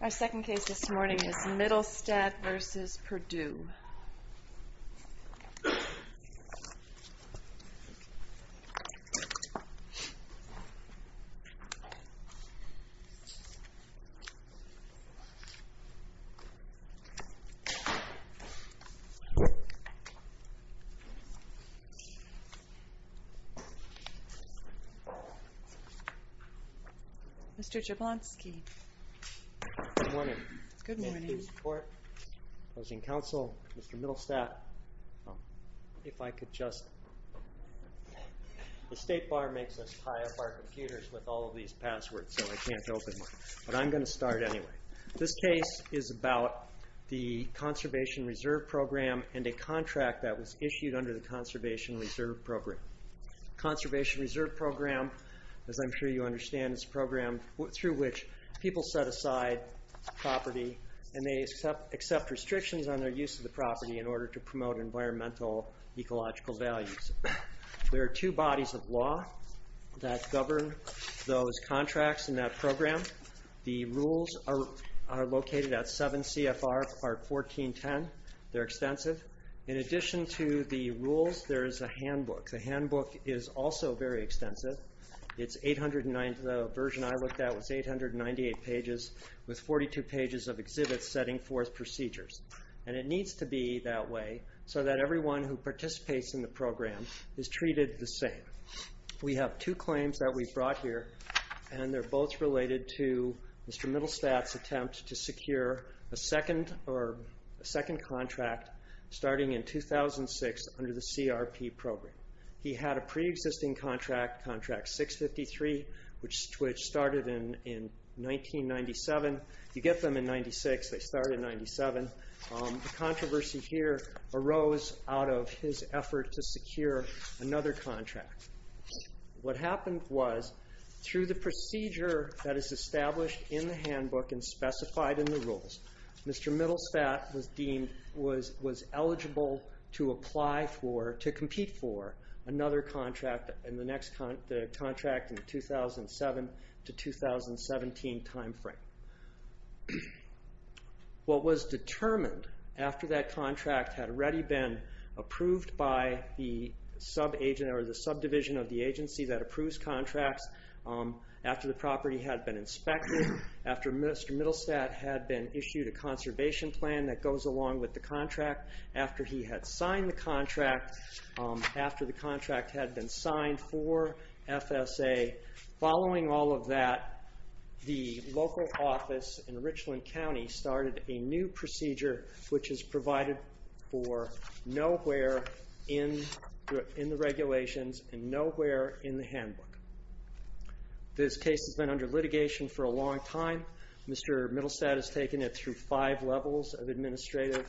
Our second case this morning is Mittelstadt v. Perdue. Mr. Jablonski. Good morning. Thank you for your support. Closing counsel, Mr. Mittelstadt, if I could just... The State Bar makes us tie up our computers with all of these passwords, so I can't open mine. But I'm going to start anyway. This case is about the Conservation Reserve Program and a contract that was issued under the Conservation Reserve Program. Conservation Reserve Program, as I'm sure you understand, is a program through which people set aside property and they accept restrictions on their use of the property in order to promote environmental ecological values. There are two bodies of law that govern those contracts in that program. The rules are located at 7 CFR Part 1410. They're extensive. In addition to the rules, there is a handbook. The handbook is also very extensive. The version I looked at was 898 pages with 42 pages of exhibits setting forth procedures. And it needs to be that way so that everyone who participates in the program is treated the same. We have two claims that we've brought here and they're both related to Mr. Mittelstadt's attempt to secure a second contract starting in 2006 under the CRP Program. He had a preexisting contract, Contract 653, which started in 1997. You get them in 1996, they start in 1997. The controversy here arose out of his effort to secure another contract. What happened was, through the procedure that is established in the handbook and specified in the rules, Mr. Mittelstadt was deemed was eligible to apply for, to compete for, another contract in the next contract in the 2007 to 2017 time frame. What was determined after that contract had already been approved by the subdivision of the agency that approves contracts, after the property had been inspected, after Mr. Mittelstadt had been issued a conservation plan that goes along with the contract, after he had signed the contract, after the contract had been signed for FSA, following all of that, the local office in Richland County started a new procedure which is provided for nowhere in the regulations and nowhere in the handbook. This case has been under litigation for a long time. Mr. Mittelstadt has taken it through five levels of administrative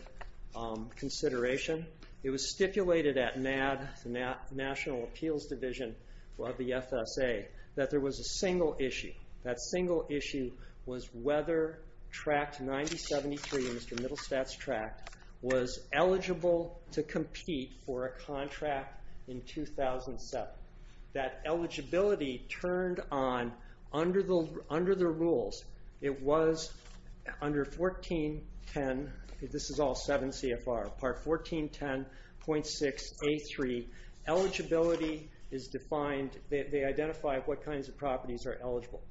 consideration. It was stipulated at NAD, the National Appeals Division of the FSA, that there was a single issue. That single issue was whether Tract 9073, Mr. Mittelstadt's tract, was eligible to compete for a contract in 2007. That eligibility turned on, under the rules, it was under 1410, this is all 7 CFR, part 1410.6A3, eligibility is defined, they identify what kinds of properties are eligible.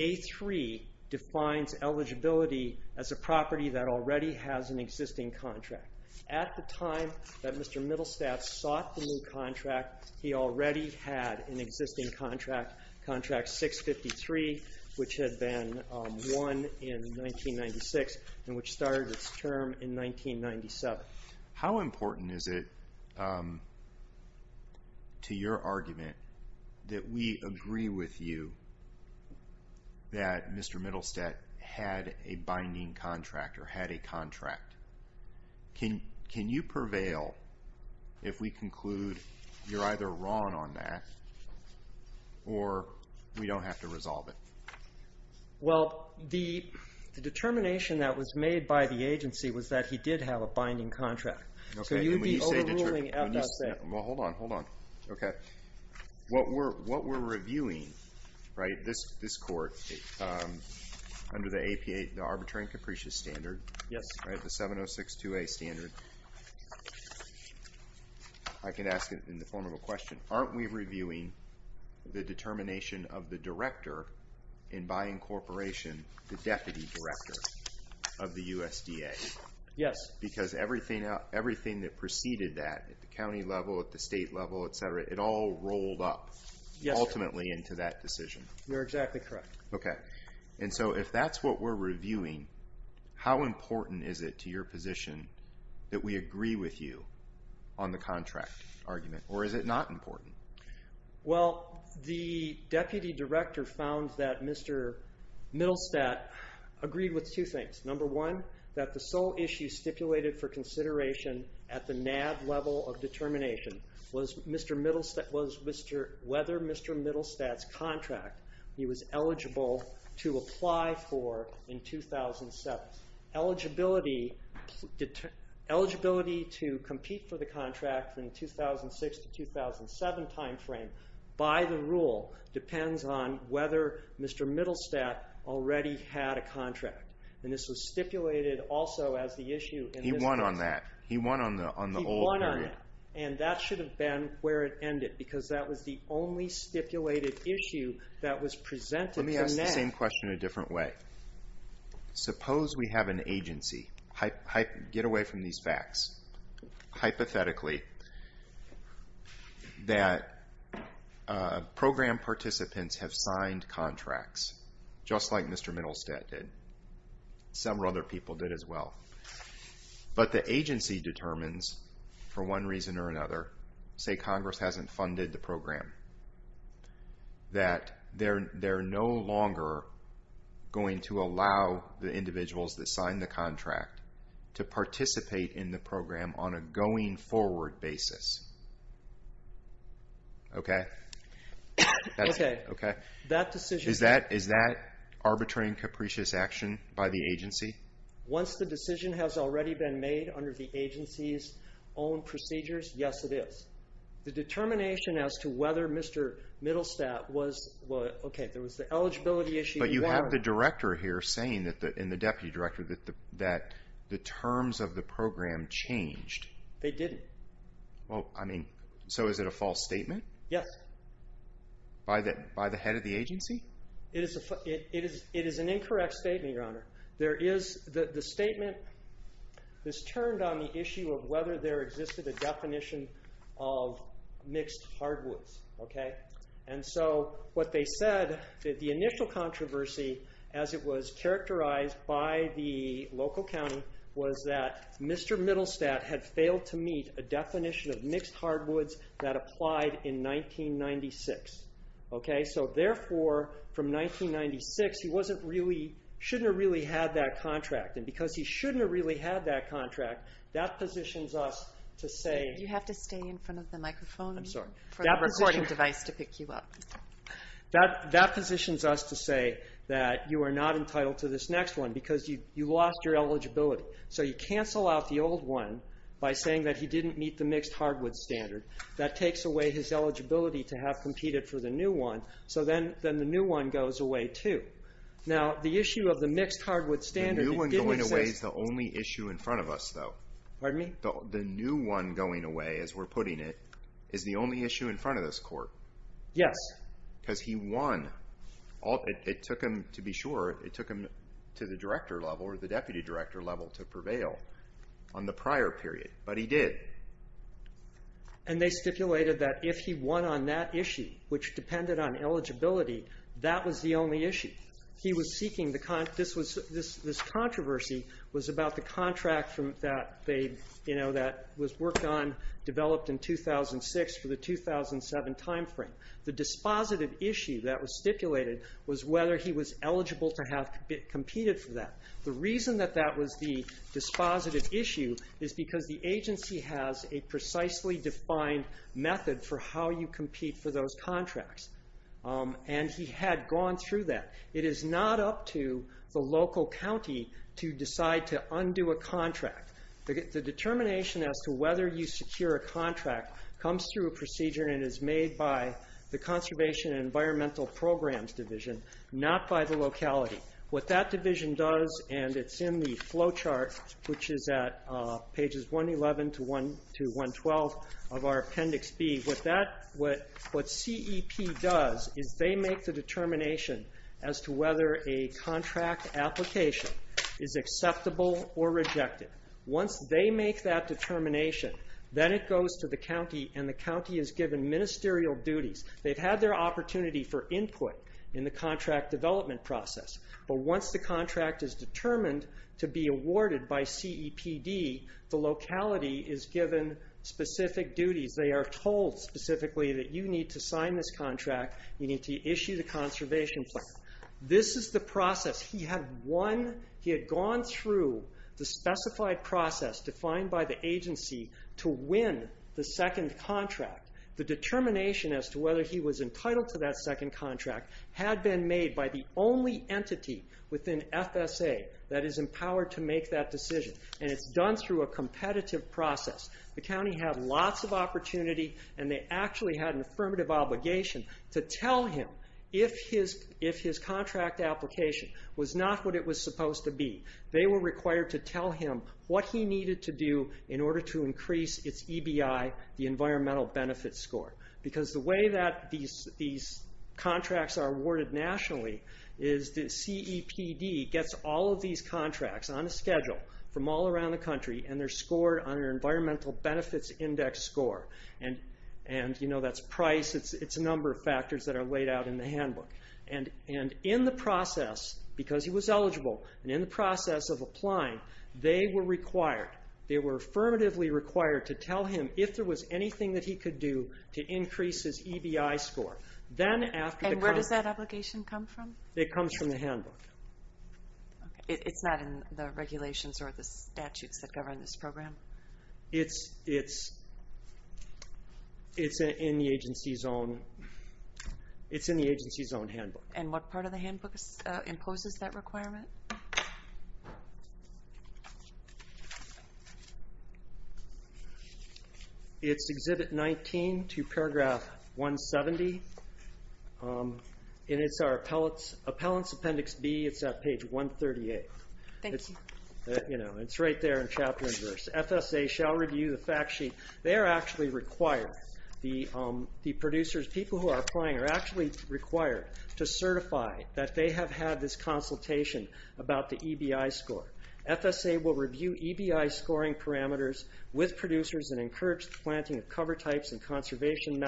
A3 defines eligibility as a property that already has an existing contract. At the time that Mr. Mittelstadt sought the new contract, he already had an existing contract, Contract 653, which had been won in 1996 and which started its term in 1997. But how important is it to your argument that we agree with you that Mr. Mittelstadt had a binding contract or had a contract? Can you prevail if we conclude you're either wrong on that or we don't have to resolve it? Well, the determination that was made by the agency was that he did have a binding contract. So you'd be overruling FSA. Well, hold on, hold on. Okay. What we're reviewing, right, this court, under the APA, the Arbitrary and Capricious Standard, the 7062A standard, I can ask it in the form of a question. Aren't we reviewing the determination of the director and by incorporation the deputy director of the USDA? Yes. Because everything that preceded that at the county level, at the state level, et cetera, it all rolled up ultimately into that decision. You're exactly correct. Okay. And so if that's what we're reviewing, how important is it to your position that we agree with you on the contract argument? Or is it not important? Well, the deputy director found that Mr. Middlestadt agreed with two things. Number one, that the sole issue stipulated for consideration at the NAB level of determination was whether Mr. Middlestadt's contract he was eligible to apply for in 2007. Eligibility to compete for the contract in the 2006 to 2007 timeframe, by the rule, depends on whether Mr. Middlestadt already had a contract. And this was stipulated also as the issue in this case. He won on that. He won on the old period. He won on that. And that should have been where it ended because that was the only stipulated issue that was presented to NAB. Let me ask the same question in a different way. Suppose we have an agency. Get away from these facts. Hypothetically, that program participants have signed contracts, just like Mr. Middlestadt did. Some other people did as well. But the agency determines, for one reason or another, say Congress hasn't funded the program, that they're no longer going to allow the individuals that signed the contract to participate in the program on a going forward basis. Is that arbitrary and capricious action by the agency? Once the decision has already been made under the agency's own procedures, yes it is. The determination as to whether Mr. Middlestadt was, okay, there was the eligibility issue. But you have the director here saying, and the deputy director, that the terms of the program changed. They didn't. Well, I mean, so is it a false statement? Yes. By the head of the agency? It is an incorrect statement, Your Honor. The statement is turned on the issue of whether there existed a definition of mixed hardwoods. And so what they said, the initial controversy, as it was characterized by the local county, was that Mr. Middlestadt had failed to meet a definition of mixed hardwoods that applied in 1996. Okay? So therefore, from 1996, he wasn't really, shouldn't have really had that contract. And because he shouldn't have really had that contract, that positions us to say. You have to stay in front of the microphone for the recording device to pick you up. That positions us to say that you are not entitled to this next one because you lost your eligibility. So you cancel out the old one by saying that he didn't meet the mixed hardwood standard. That takes away his eligibility to have competed for the new one. So then the new one goes away, too. Now, the issue of the mixed hardwood standard didn't exist. The new one going away is the only issue in front of us, though. Pardon me? The new one going away, as we're putting it, is the only issue in front of this Court. Yes. Because he won. It took him, to be sure, it took him to the director level or the deputy director level to prevail on the prior period. But he did. And they stipulated that if he won on that issue, which depended on eligibility, that was the only issue. This controversy was about the contract that was worked on, developed in 2006 for the 2007 timeframe. The dispositive issue that was stipulated was whether he was eligible to have competed for that. The reason that that was the dispositive issue is because the agency has a precisely defined method for how you compete for those contracts. And he had gone through that. It is not up to the local county to decide to undo a contract. The determination as to whether you secure a contract comes through a procedure and is made by the Conservation and Environmental Programs Division, not by the locality. What that division does, and it's in the flow chart, which is at pages 111 to 112 of our Appendix B, what CEP does is they make the determination as to whether a contract application is acceptable or rejected. Once they make that determination, then it goes to the county, and the county is given ministerial duties. They've had their opportunity for input in the contract development process, but once the contract is determined to be awarded by CEPD, the locality is given specific duties. They are told specifically that you need to sign this contract, you need to issue the conservation plan. This is the process. He had gone through the specified process defined by the agency to win the second contract. The determination as to whether he was entitled to that second contract had been made by the only entity within FSA that is empowered to make that decision, and it's done through a competitive process. The county had lots of opportunity, and they actually had an affirmative obligation to tell him if his contract application was not what it was supposed to be. They were required to tell him what he needed to do in order to increase his EBI, the environmental benefits score. The way that these contracts are awarded nationally is that CEPD gets all of these contracts on a schedule from all around the country, and they're scored on an environmental benefits index score. That's price, it's a number of factors that are laid out in the handbook. In the process, because he was eligible, and in the process of applying, they were required, they were affirmatively required to tell him if there was anything that he could do to increase his EBI score. Where does that obligation come from? It comes from the handbook. It's not in the regulations or the statutes that govern this program? It's in the agency's own handbook. And what part of the handbook imposes that requirement? It's Exhibit 19 to Paragraph 170, and it's our Appellants Appendix B. It's at page 138. Thank you. It's right there in chapter and verse. FSA shall review the fact sheet. They are actually required, the producers, people who are applying are actually required to certify that they have had this consultation about the EBI score. FSA will review EBI scoring parameters with producers and encourage the planting of cover types and conservation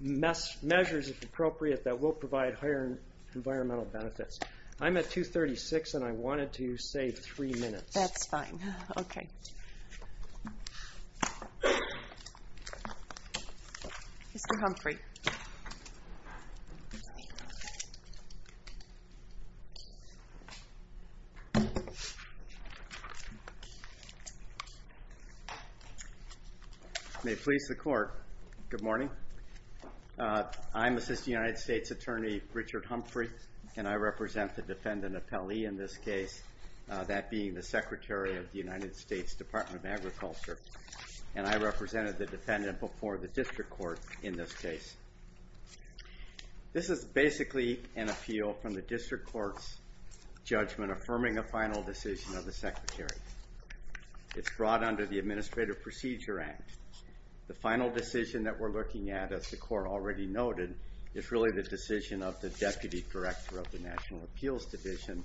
measures, if appropriate, that will provide higher environmental benefits. I'm at 236, and I wanted to save three minutes. That's fine. Okay. Mr. Humphrey. May it please the Court, good morning. I'm Assistant United States Attorney Richard Humphrey, and I represent the defendant appellee in this case, that being the Secretary of the United States Department of Agriculture, and I represented the defendant before the District Court in this case. This is basically an appeal from the District Court's judgment affirming a final decision of the Secretary. It's brought under the Administrative Procedure Act. The final decision that we're looking at, as the Court already noted, is really the decision of the Deputy Director of the National Appeals Division,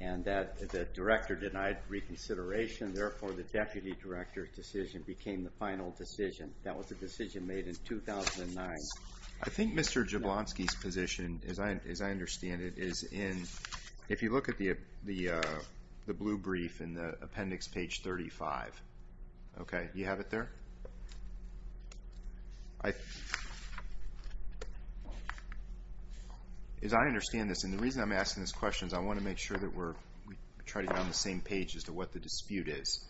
and that the Director denied reconsideration, therefore the Deputy Director's decision became the final decision. That was the decision made in 2009. I think Mr. Jablonski's position, as I understand it, is in, if you look at the blue brief in the appendix, page 35. Okay, you have it there? As I understand this, and the reason I'm asking this question is I want to make sure that we're, we try to get on the same page as to what the dispute is.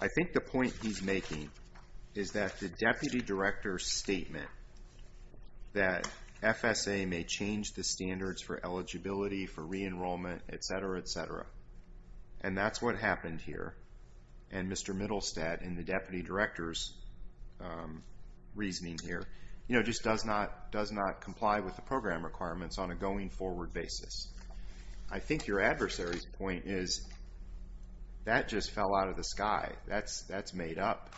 I think the point he's making is that the Deputy Director's statement that FSA may change the standards for eligibility, for re-enrollment, et cetera, et cetera, and that's what happened here. And Mr. Middlestad, in the Deputy Director's reasoning here, just does not comply with the program requirements on a going-forward basis. I think your adversary's point is that just fell out of the sky. That's made up,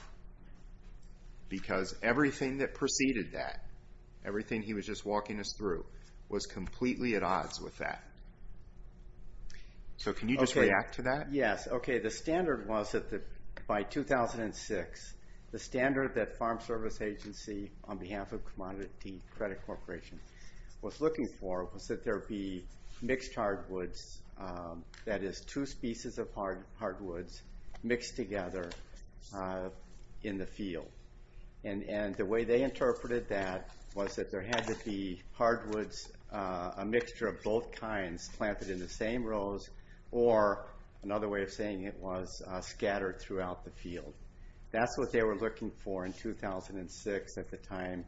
because everything that preceded that, everything he was just walking us through, was completely at odds with that. So can you just react to that? Yes, okay, the standard was that by 2006, the standard that Farm Service Agency, on behalf of Commodity Credit Corporation, was looking for was that there be mixed hardwoods, that is two species of hardwoods mixed together in the field. And the way they interpreted that was that there had to be hardwoods, a mixture of both kinds, planted in the same rows, or another way of saying it was scattered throughout the field. That's what they were looking for in 2006 at the time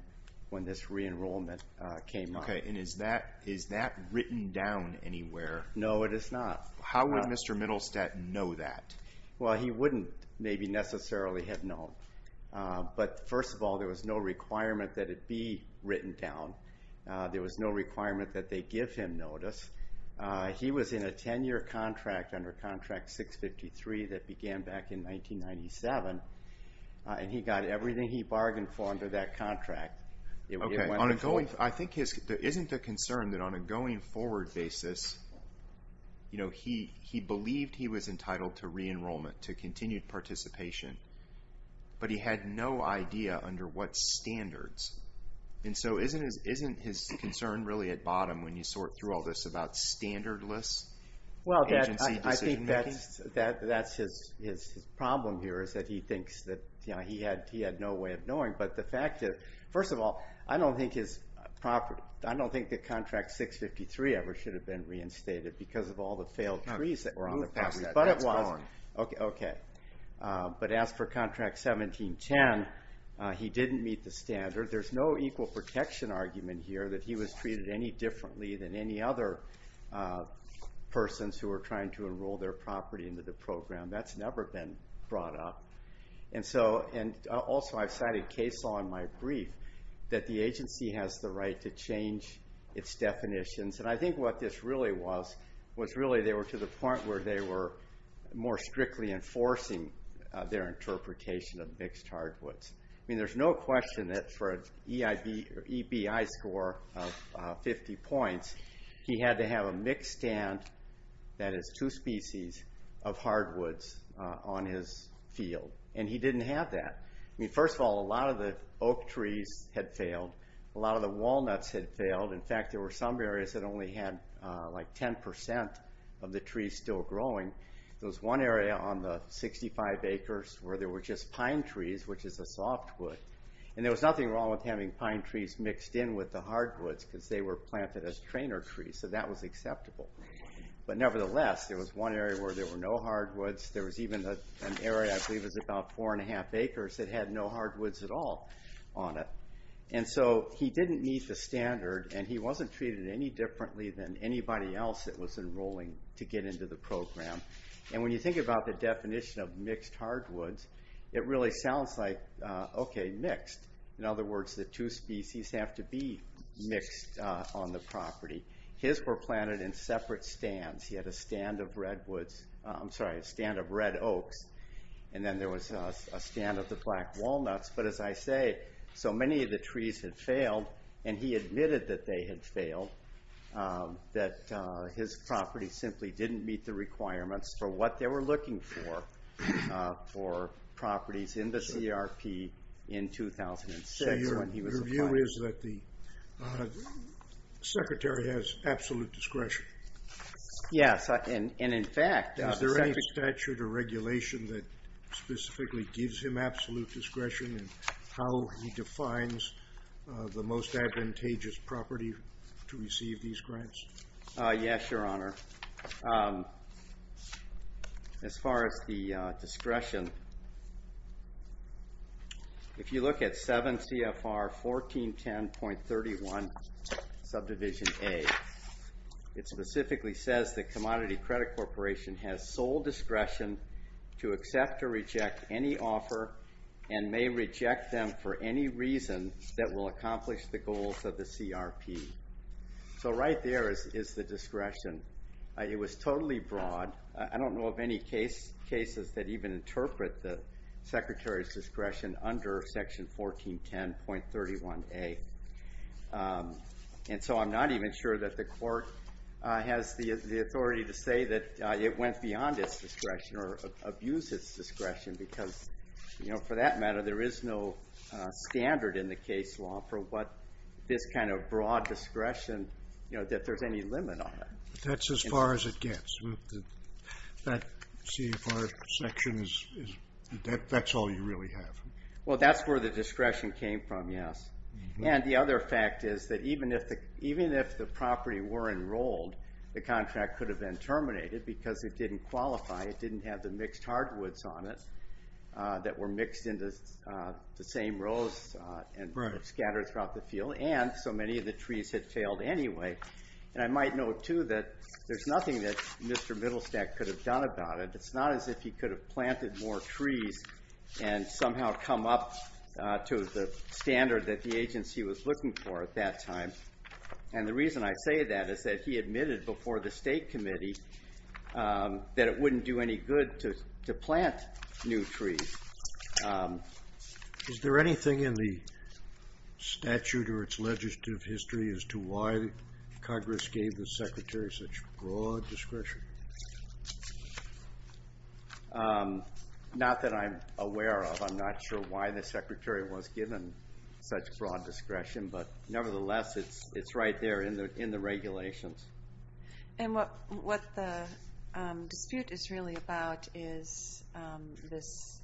when this re-enrollment came up. Okay, and is that written down anywhere? No, it is not. How would Mr. Middlestad know that? Well, he wouldn't maybe necessarily have known. But first of all, there was no requirement that it be written down. There was no requirement that they give him notice. He was in a 10-year contract under Contract 653 that began back in 1997, and he got everything he bargained for under that contract. Okay, I think there isn't a concern that on a going forward basis, he believed he was entitled to re-enrollment, to continued participation, but he had no idea under what standards. And so isn't his concern really at bottom when you sort through all this about standardless agency decision-making? Well, I think that's his problem here is that he thinks that he had no way of knowing. But the fact is, first of all, I don't think his property, I don't think that Contract 653 ever should have been reinstated because of all the failed trees that were on the property. But it was. Okay. But as for Contract 1710, he didn't meet the standard. There's no equal protection argument here that he was treated any differently than any other persons who were trying to enroll their property into the program. That's never been brought up. And also, I've cited CASAW in my brief, that the agency has the right to change its definitions. And I think what this really was was really they were to the point where they were more strictly enforcing their interpretation of mixed hardwoods. I mean, there's no question that for an EBI score of 50 points, he had to have a mixed stand, that is, two species of hardwoods on his field. And he didn't have that. I mean, first of all, a lot of the oak trees had failed. A lot of the walnuts had failed. In fact, there were some areas that only had like 10% of the trees still growing. There was one area on the 65 acres where there were just pine trees, which is a softwood. And there was nothing wrong with having pine trees mixed in with the hardwoods because they were planted as trainer trees. So that was acceptable. But nevertheless, there was one area where there were no hardwoods. There was even an area, I believe it was about 4 1⁄2 acres, that had no hardwoods at all on it. And so he didn't meet the standard, and he wasn't treated any differently than anybody else that was enrolling to get into the program. And when you think about the definition of mixed hardwoods, it really sounds like, okay, mixed. In other words, the two species have to be mixed on the property. His were planted in separate stands. He had a stand of redwoods. I'm sorry, a stand of red oaks. And then there was a stand of the black walnuts. But as I say, so many of the trees had failed, and he admitted that they had failed, that his property simply didn't meet the requirements for what they were looking for for properties in the CRP in 2006. So your view is that the secretary has absolute discretion? Yes, and in fact... Is there any statute or regulation that specifically gives him absolute discretion in how he defines the most advantageous property to receive these grants? Yes, Your Honor. As far as the discretion, if you look at 7 CFR 1410.31, subdivision A, it specifically says that Commodity Credit Corporation has sole discretion to accept or reject any offer and may reject them for any reason that will accomplish the goals of the CRP. So right there is the discretion. It was totally broad. I don't know of any cases that even interpret the secretary's discretion under section 1410.31A. And so I'm not even sure that the court has the authority to say that it went beyond its discretion or abused its discretion because, you know, for that matter, there is no standard in the case law for what this kind of broad discretion, you know, that there's any limit on it. That's as far as it gets. That CFR section, that's all you really have. Well, that's where the discretion came from, yes. And the other fact is that even if the property were enrolled, the contract could have been terminated because it didn't qualify. It didn't have the mixed hardwoods on it that were mixed into the same rows and scattered throughout the field, and so many of the trees had failed anyway. And I might note, too, that there's nothing that Mr. Middlestack could have done about it. It's not as if he could have planted more trees and somehow come up to the standard that the agency was looking for at that time. And the reason I say that is that he admitted before the State Committee that it wouldn't do any good to plant new trees. Is there anything in the statute or its legislative history as to why Congress gave the Secretary such broad discretion? Not that I'm aware of. I'm not sure why the Secretary was given such broad discretion, but nevertheless, it's right there in the regulations. And what the dispute is really about is this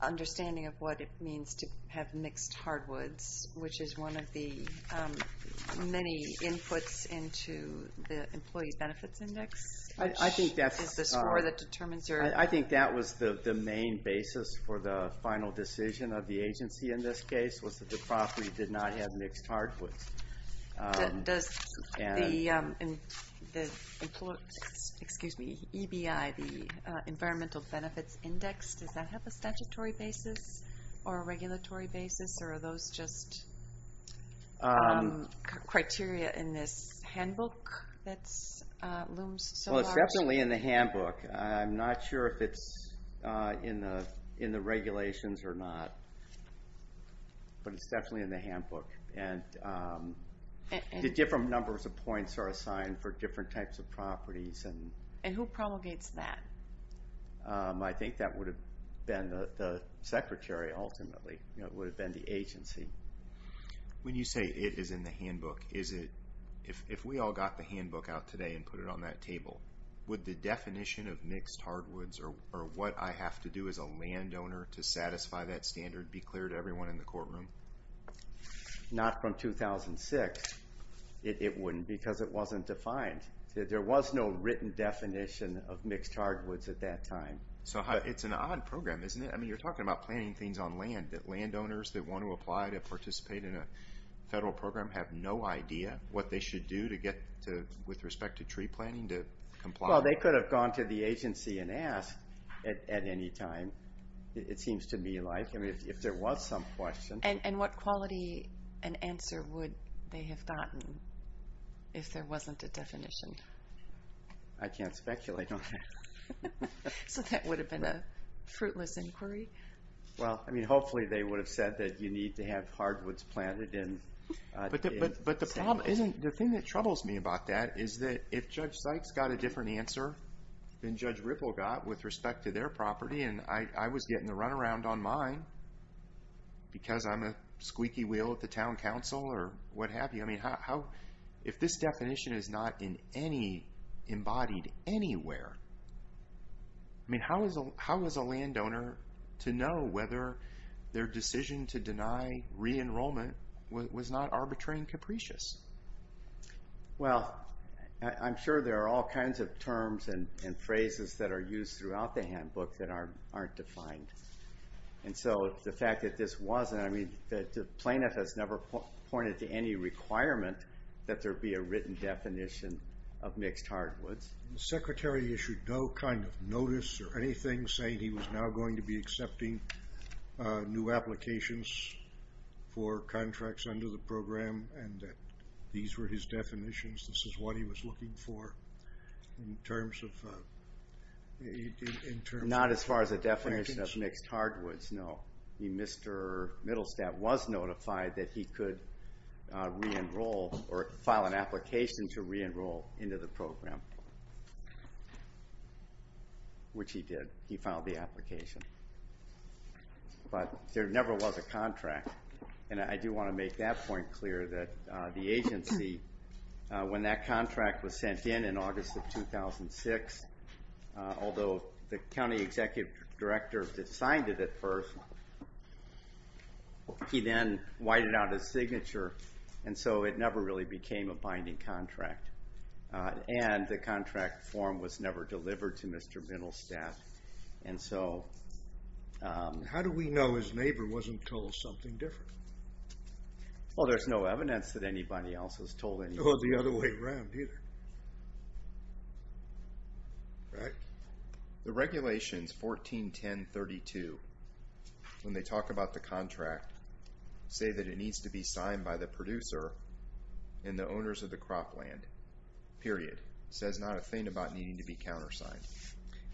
understanding of what it means to have mixed hardwoods, which is one of the many inputs into the Employee Benefits Index, which is the score that determines your... I think that was the main basis for the final decision of the agency in this case, was that the property did not have mixed hardwoods. Does the EBI, the Environmental Benefits Index, does that have a statutory basis or a regulatory basis, or are those just criteria in this handbook that looms so large? Well, it's definitely in the handbook. I'm not sure if it's in the regulations or not. But it's definitely in the handbook. The different numbers of points are assigned for different types of properties. And who promulgates that? I think that would have been the Secretary ultimately. It would have been the agency. When you say it is in the handbook, if we all got the handbook out today and put it on that table, would the definition of mixed hardwoods or what I have to do as a landowner to satisfy that standard be clear to everyone in the courtroom? Not from 2006. It wouldn't because it wasn't defined. There was no written definition of mixed hardwoods at that time. So it's an odd program, isn't it? I mean, you're talking about planning things on land, that landowners that want to apply to participate in a federal program have no idea what they should do with respect to tree planning to comply. Well, they could have gone to the agency and asked at any time, it seems to me like, if there was some question. And what quality an answer would they have gotten if there wasn't a definition? I can't speculate on that. So that would have been a fruitless inquiry? Well, I mean, hopefully they would have said that you need to have hardwoods planted. But the thing that troubles me about that is that if Judge Sykes got a different answer than Judge Ripple got with respect to their property, and I was getting the runaround on mine because I'm a squeaky wheel at the town council or what have you, I mean, if this definition is not in any, embodied anywhere, I mean, how is a landowner to know whether their decision to deny re-enrollment was not arbitrary and capricious? Well, I'm sure there are all kinds of terms and phrases that are used throughout the handbook that aren't defined. And so the fact that this wasn't, I mean, the plaintiff has never pointed to any requirement that there be a written definition of mixed hardwoods. The secretary issued no kind of notice or anything saying he was now going to be accepting new applications for contracts under the program and that these were his definitions, this is what he was looking for in terms of... Not as far as a definition of mixed hardwoods, no. Mr. Middlestadt was notified that he could re-enroll or file an application to re-enroll into the program, which he did, he filed the application. But there never was a contract, and I do want to make that point clear that the agency, when that contract was sent in in August of 2006, although the county executive director had signed it at first, he then whited out his signature and so it never really became a binding contract. And the contract form was never delivered to Mr. Middlestadt. And so... How do we know his neighbor wasn't told something different? Well, there's no evidence that anybody else was told anything. Well, the other way around, either. Right? The regulations 141032, when they talk about the contract, say that it needs to be signed by the producer and the owners of the cropland, period. It says not a thing about needing to be countersigned.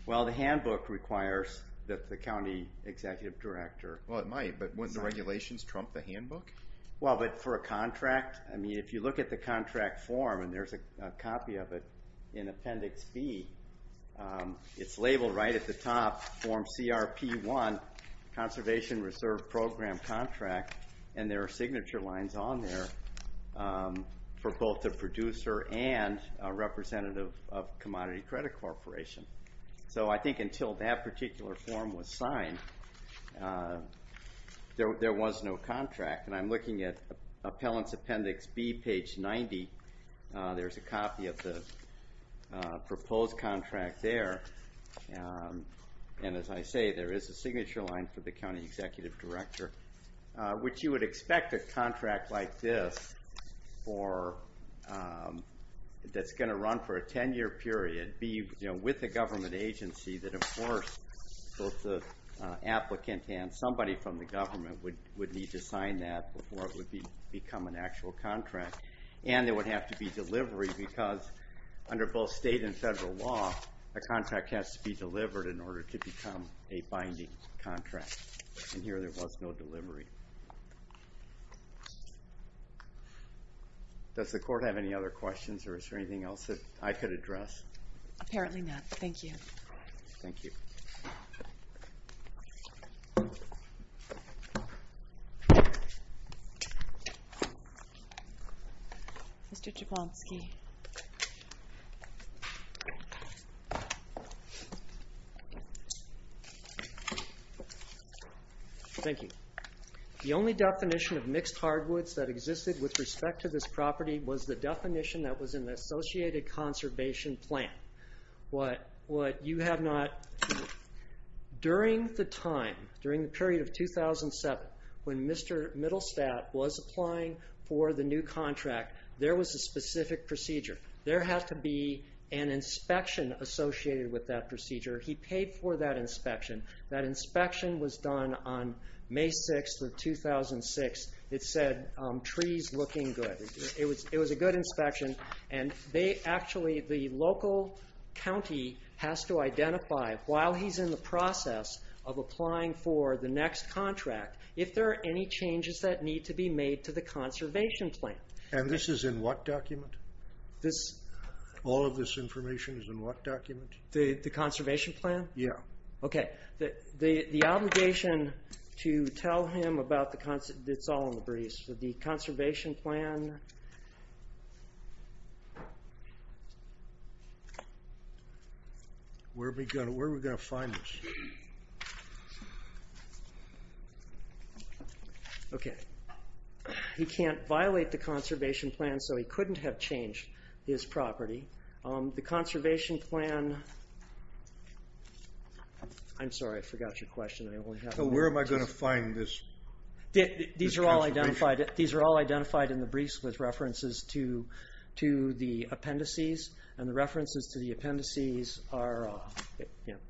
Well, the handbook requires that the county executive director... Well, it might, but wouldn't the regulations trump the handbook? Well, but for a contract, I mean, if you look at the contract form, and there's a copy of it in Appendix B, it's labeled right at the top, Form CRP-1, Conservation Reserve Program Contract, and there are signature lines on there for both the producer and a representative of Commodity Credit Corporation. So I think until that particular form was signed, there was no contract, and I'm looking at Appellant's Appendix B, page 90. There's a copy of the proposed contract there, and as I say, there is a signature line for the county executive director, which you would expect a contract like this that's going to run for a 10-year period be with a government agency that, of course, both the applicant and somebody from the government would need to sign that before it would become an actual contract, and there would have to be delivery because under both state and federal law, a contract has to be delivered in order to become a binding contract, and here there was no delivery. Does the court have any other questions, or is there anything else that I could address? Apparently not. Thank you. Thank you. Mr. Jablonski. Thank you. The only definition of mixed hardwoods that existed with respect to this property was the definition that was in the associated conservation plan. During the time, during the period of 2007, when Mr. Middlestadt was applying for the new contract, there was a specific procedure. There had to be an inspection associated with that procedure. He paid for that inspection. That inspection was done on May 6th of 2006. It said, trees looking good. It was a good inspection, and they actually, the local county, has to identify, while he's in the process of applying for the next contract, if there are any changes that need to be made to the conservation plan. And this is in what document? All of this information is in what document? The conservation plan? Yeah. Okay. The obligation to tell him about the... It's all in the briefs. So the conservation plan... Where are we going to find this? Okay. He can't violate the conservation plan, so he couldn't have changed his property. The conservation plan... I'm sorry, I forgot your question. Where am I going to find this? These are all identified in the briefs with references to the appendices, and the references to the appendices are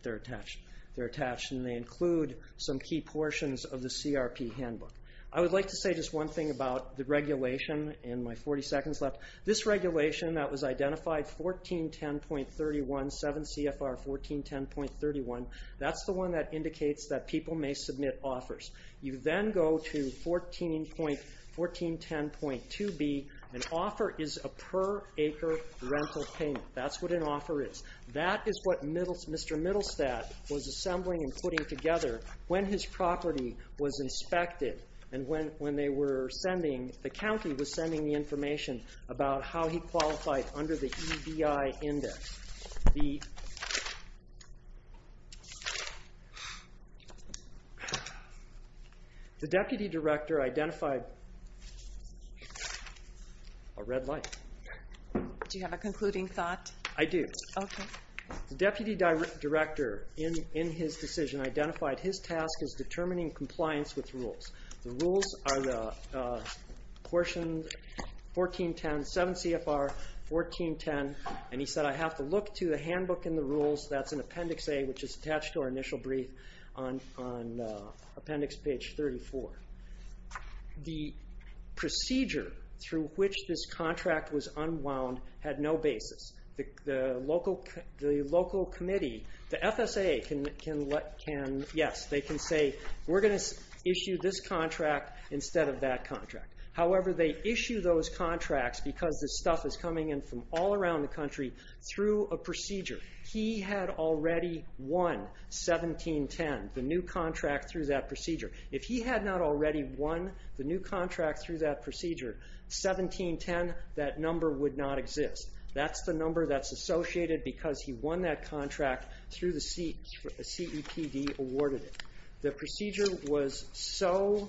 attached, and they include some key portions of the CRP handbook. I would like to say just one thing about the regulation, and my 40 seconds left. This regulation that was identified, 1410.31, 7 CFR 1410.31, that's the one that indicates that people may submit offers. You then go to 1410.2b. An offer is a per acre rental payment. That's what an offer is. That is what Mr. Middlestadt was assembling and putting together when his property was inspected, and when the county was sending the information about how he qualified under the EBI index. The deputy director identified... A red light. Do you have a concluding thought? I do. Okay. The deputy director, in his decision, identified his task as determining compliance with rules. The rules are the portion 1410, 7 CFR 1410, and he said, I have to look to the handbook and the rules. That's in Appendix A, which is attached to our initial brief on Appendix page 34. The procedure through which this contract was unwound had no basis. The local committee, the FSA, can, yes, they can say, we're going to issue this contract instead of that contract. However, they issue those contracts because this stuff is coming in from all around the country through a procedure. He had already won 1710, the new contract through that procedure. If he had not already won the new contract through that procedure, 1710, that number would not exist. That's the number that's associated because he won that contract through the CEPD awarded it. The procedure was so...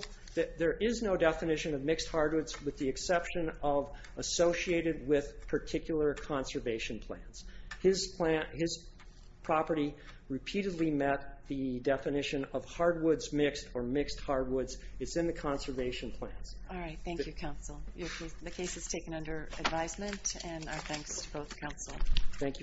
There is no definition of mixed hardwoods with the exception of associated with particular conservation plans. His property repeatedly met the definition of hardwoods mixed or mixed hardwoods. It's in the conservation plans. All right. Thank you, counsel. The case is taken under advisement, and our thanks to both counsel. Thank you.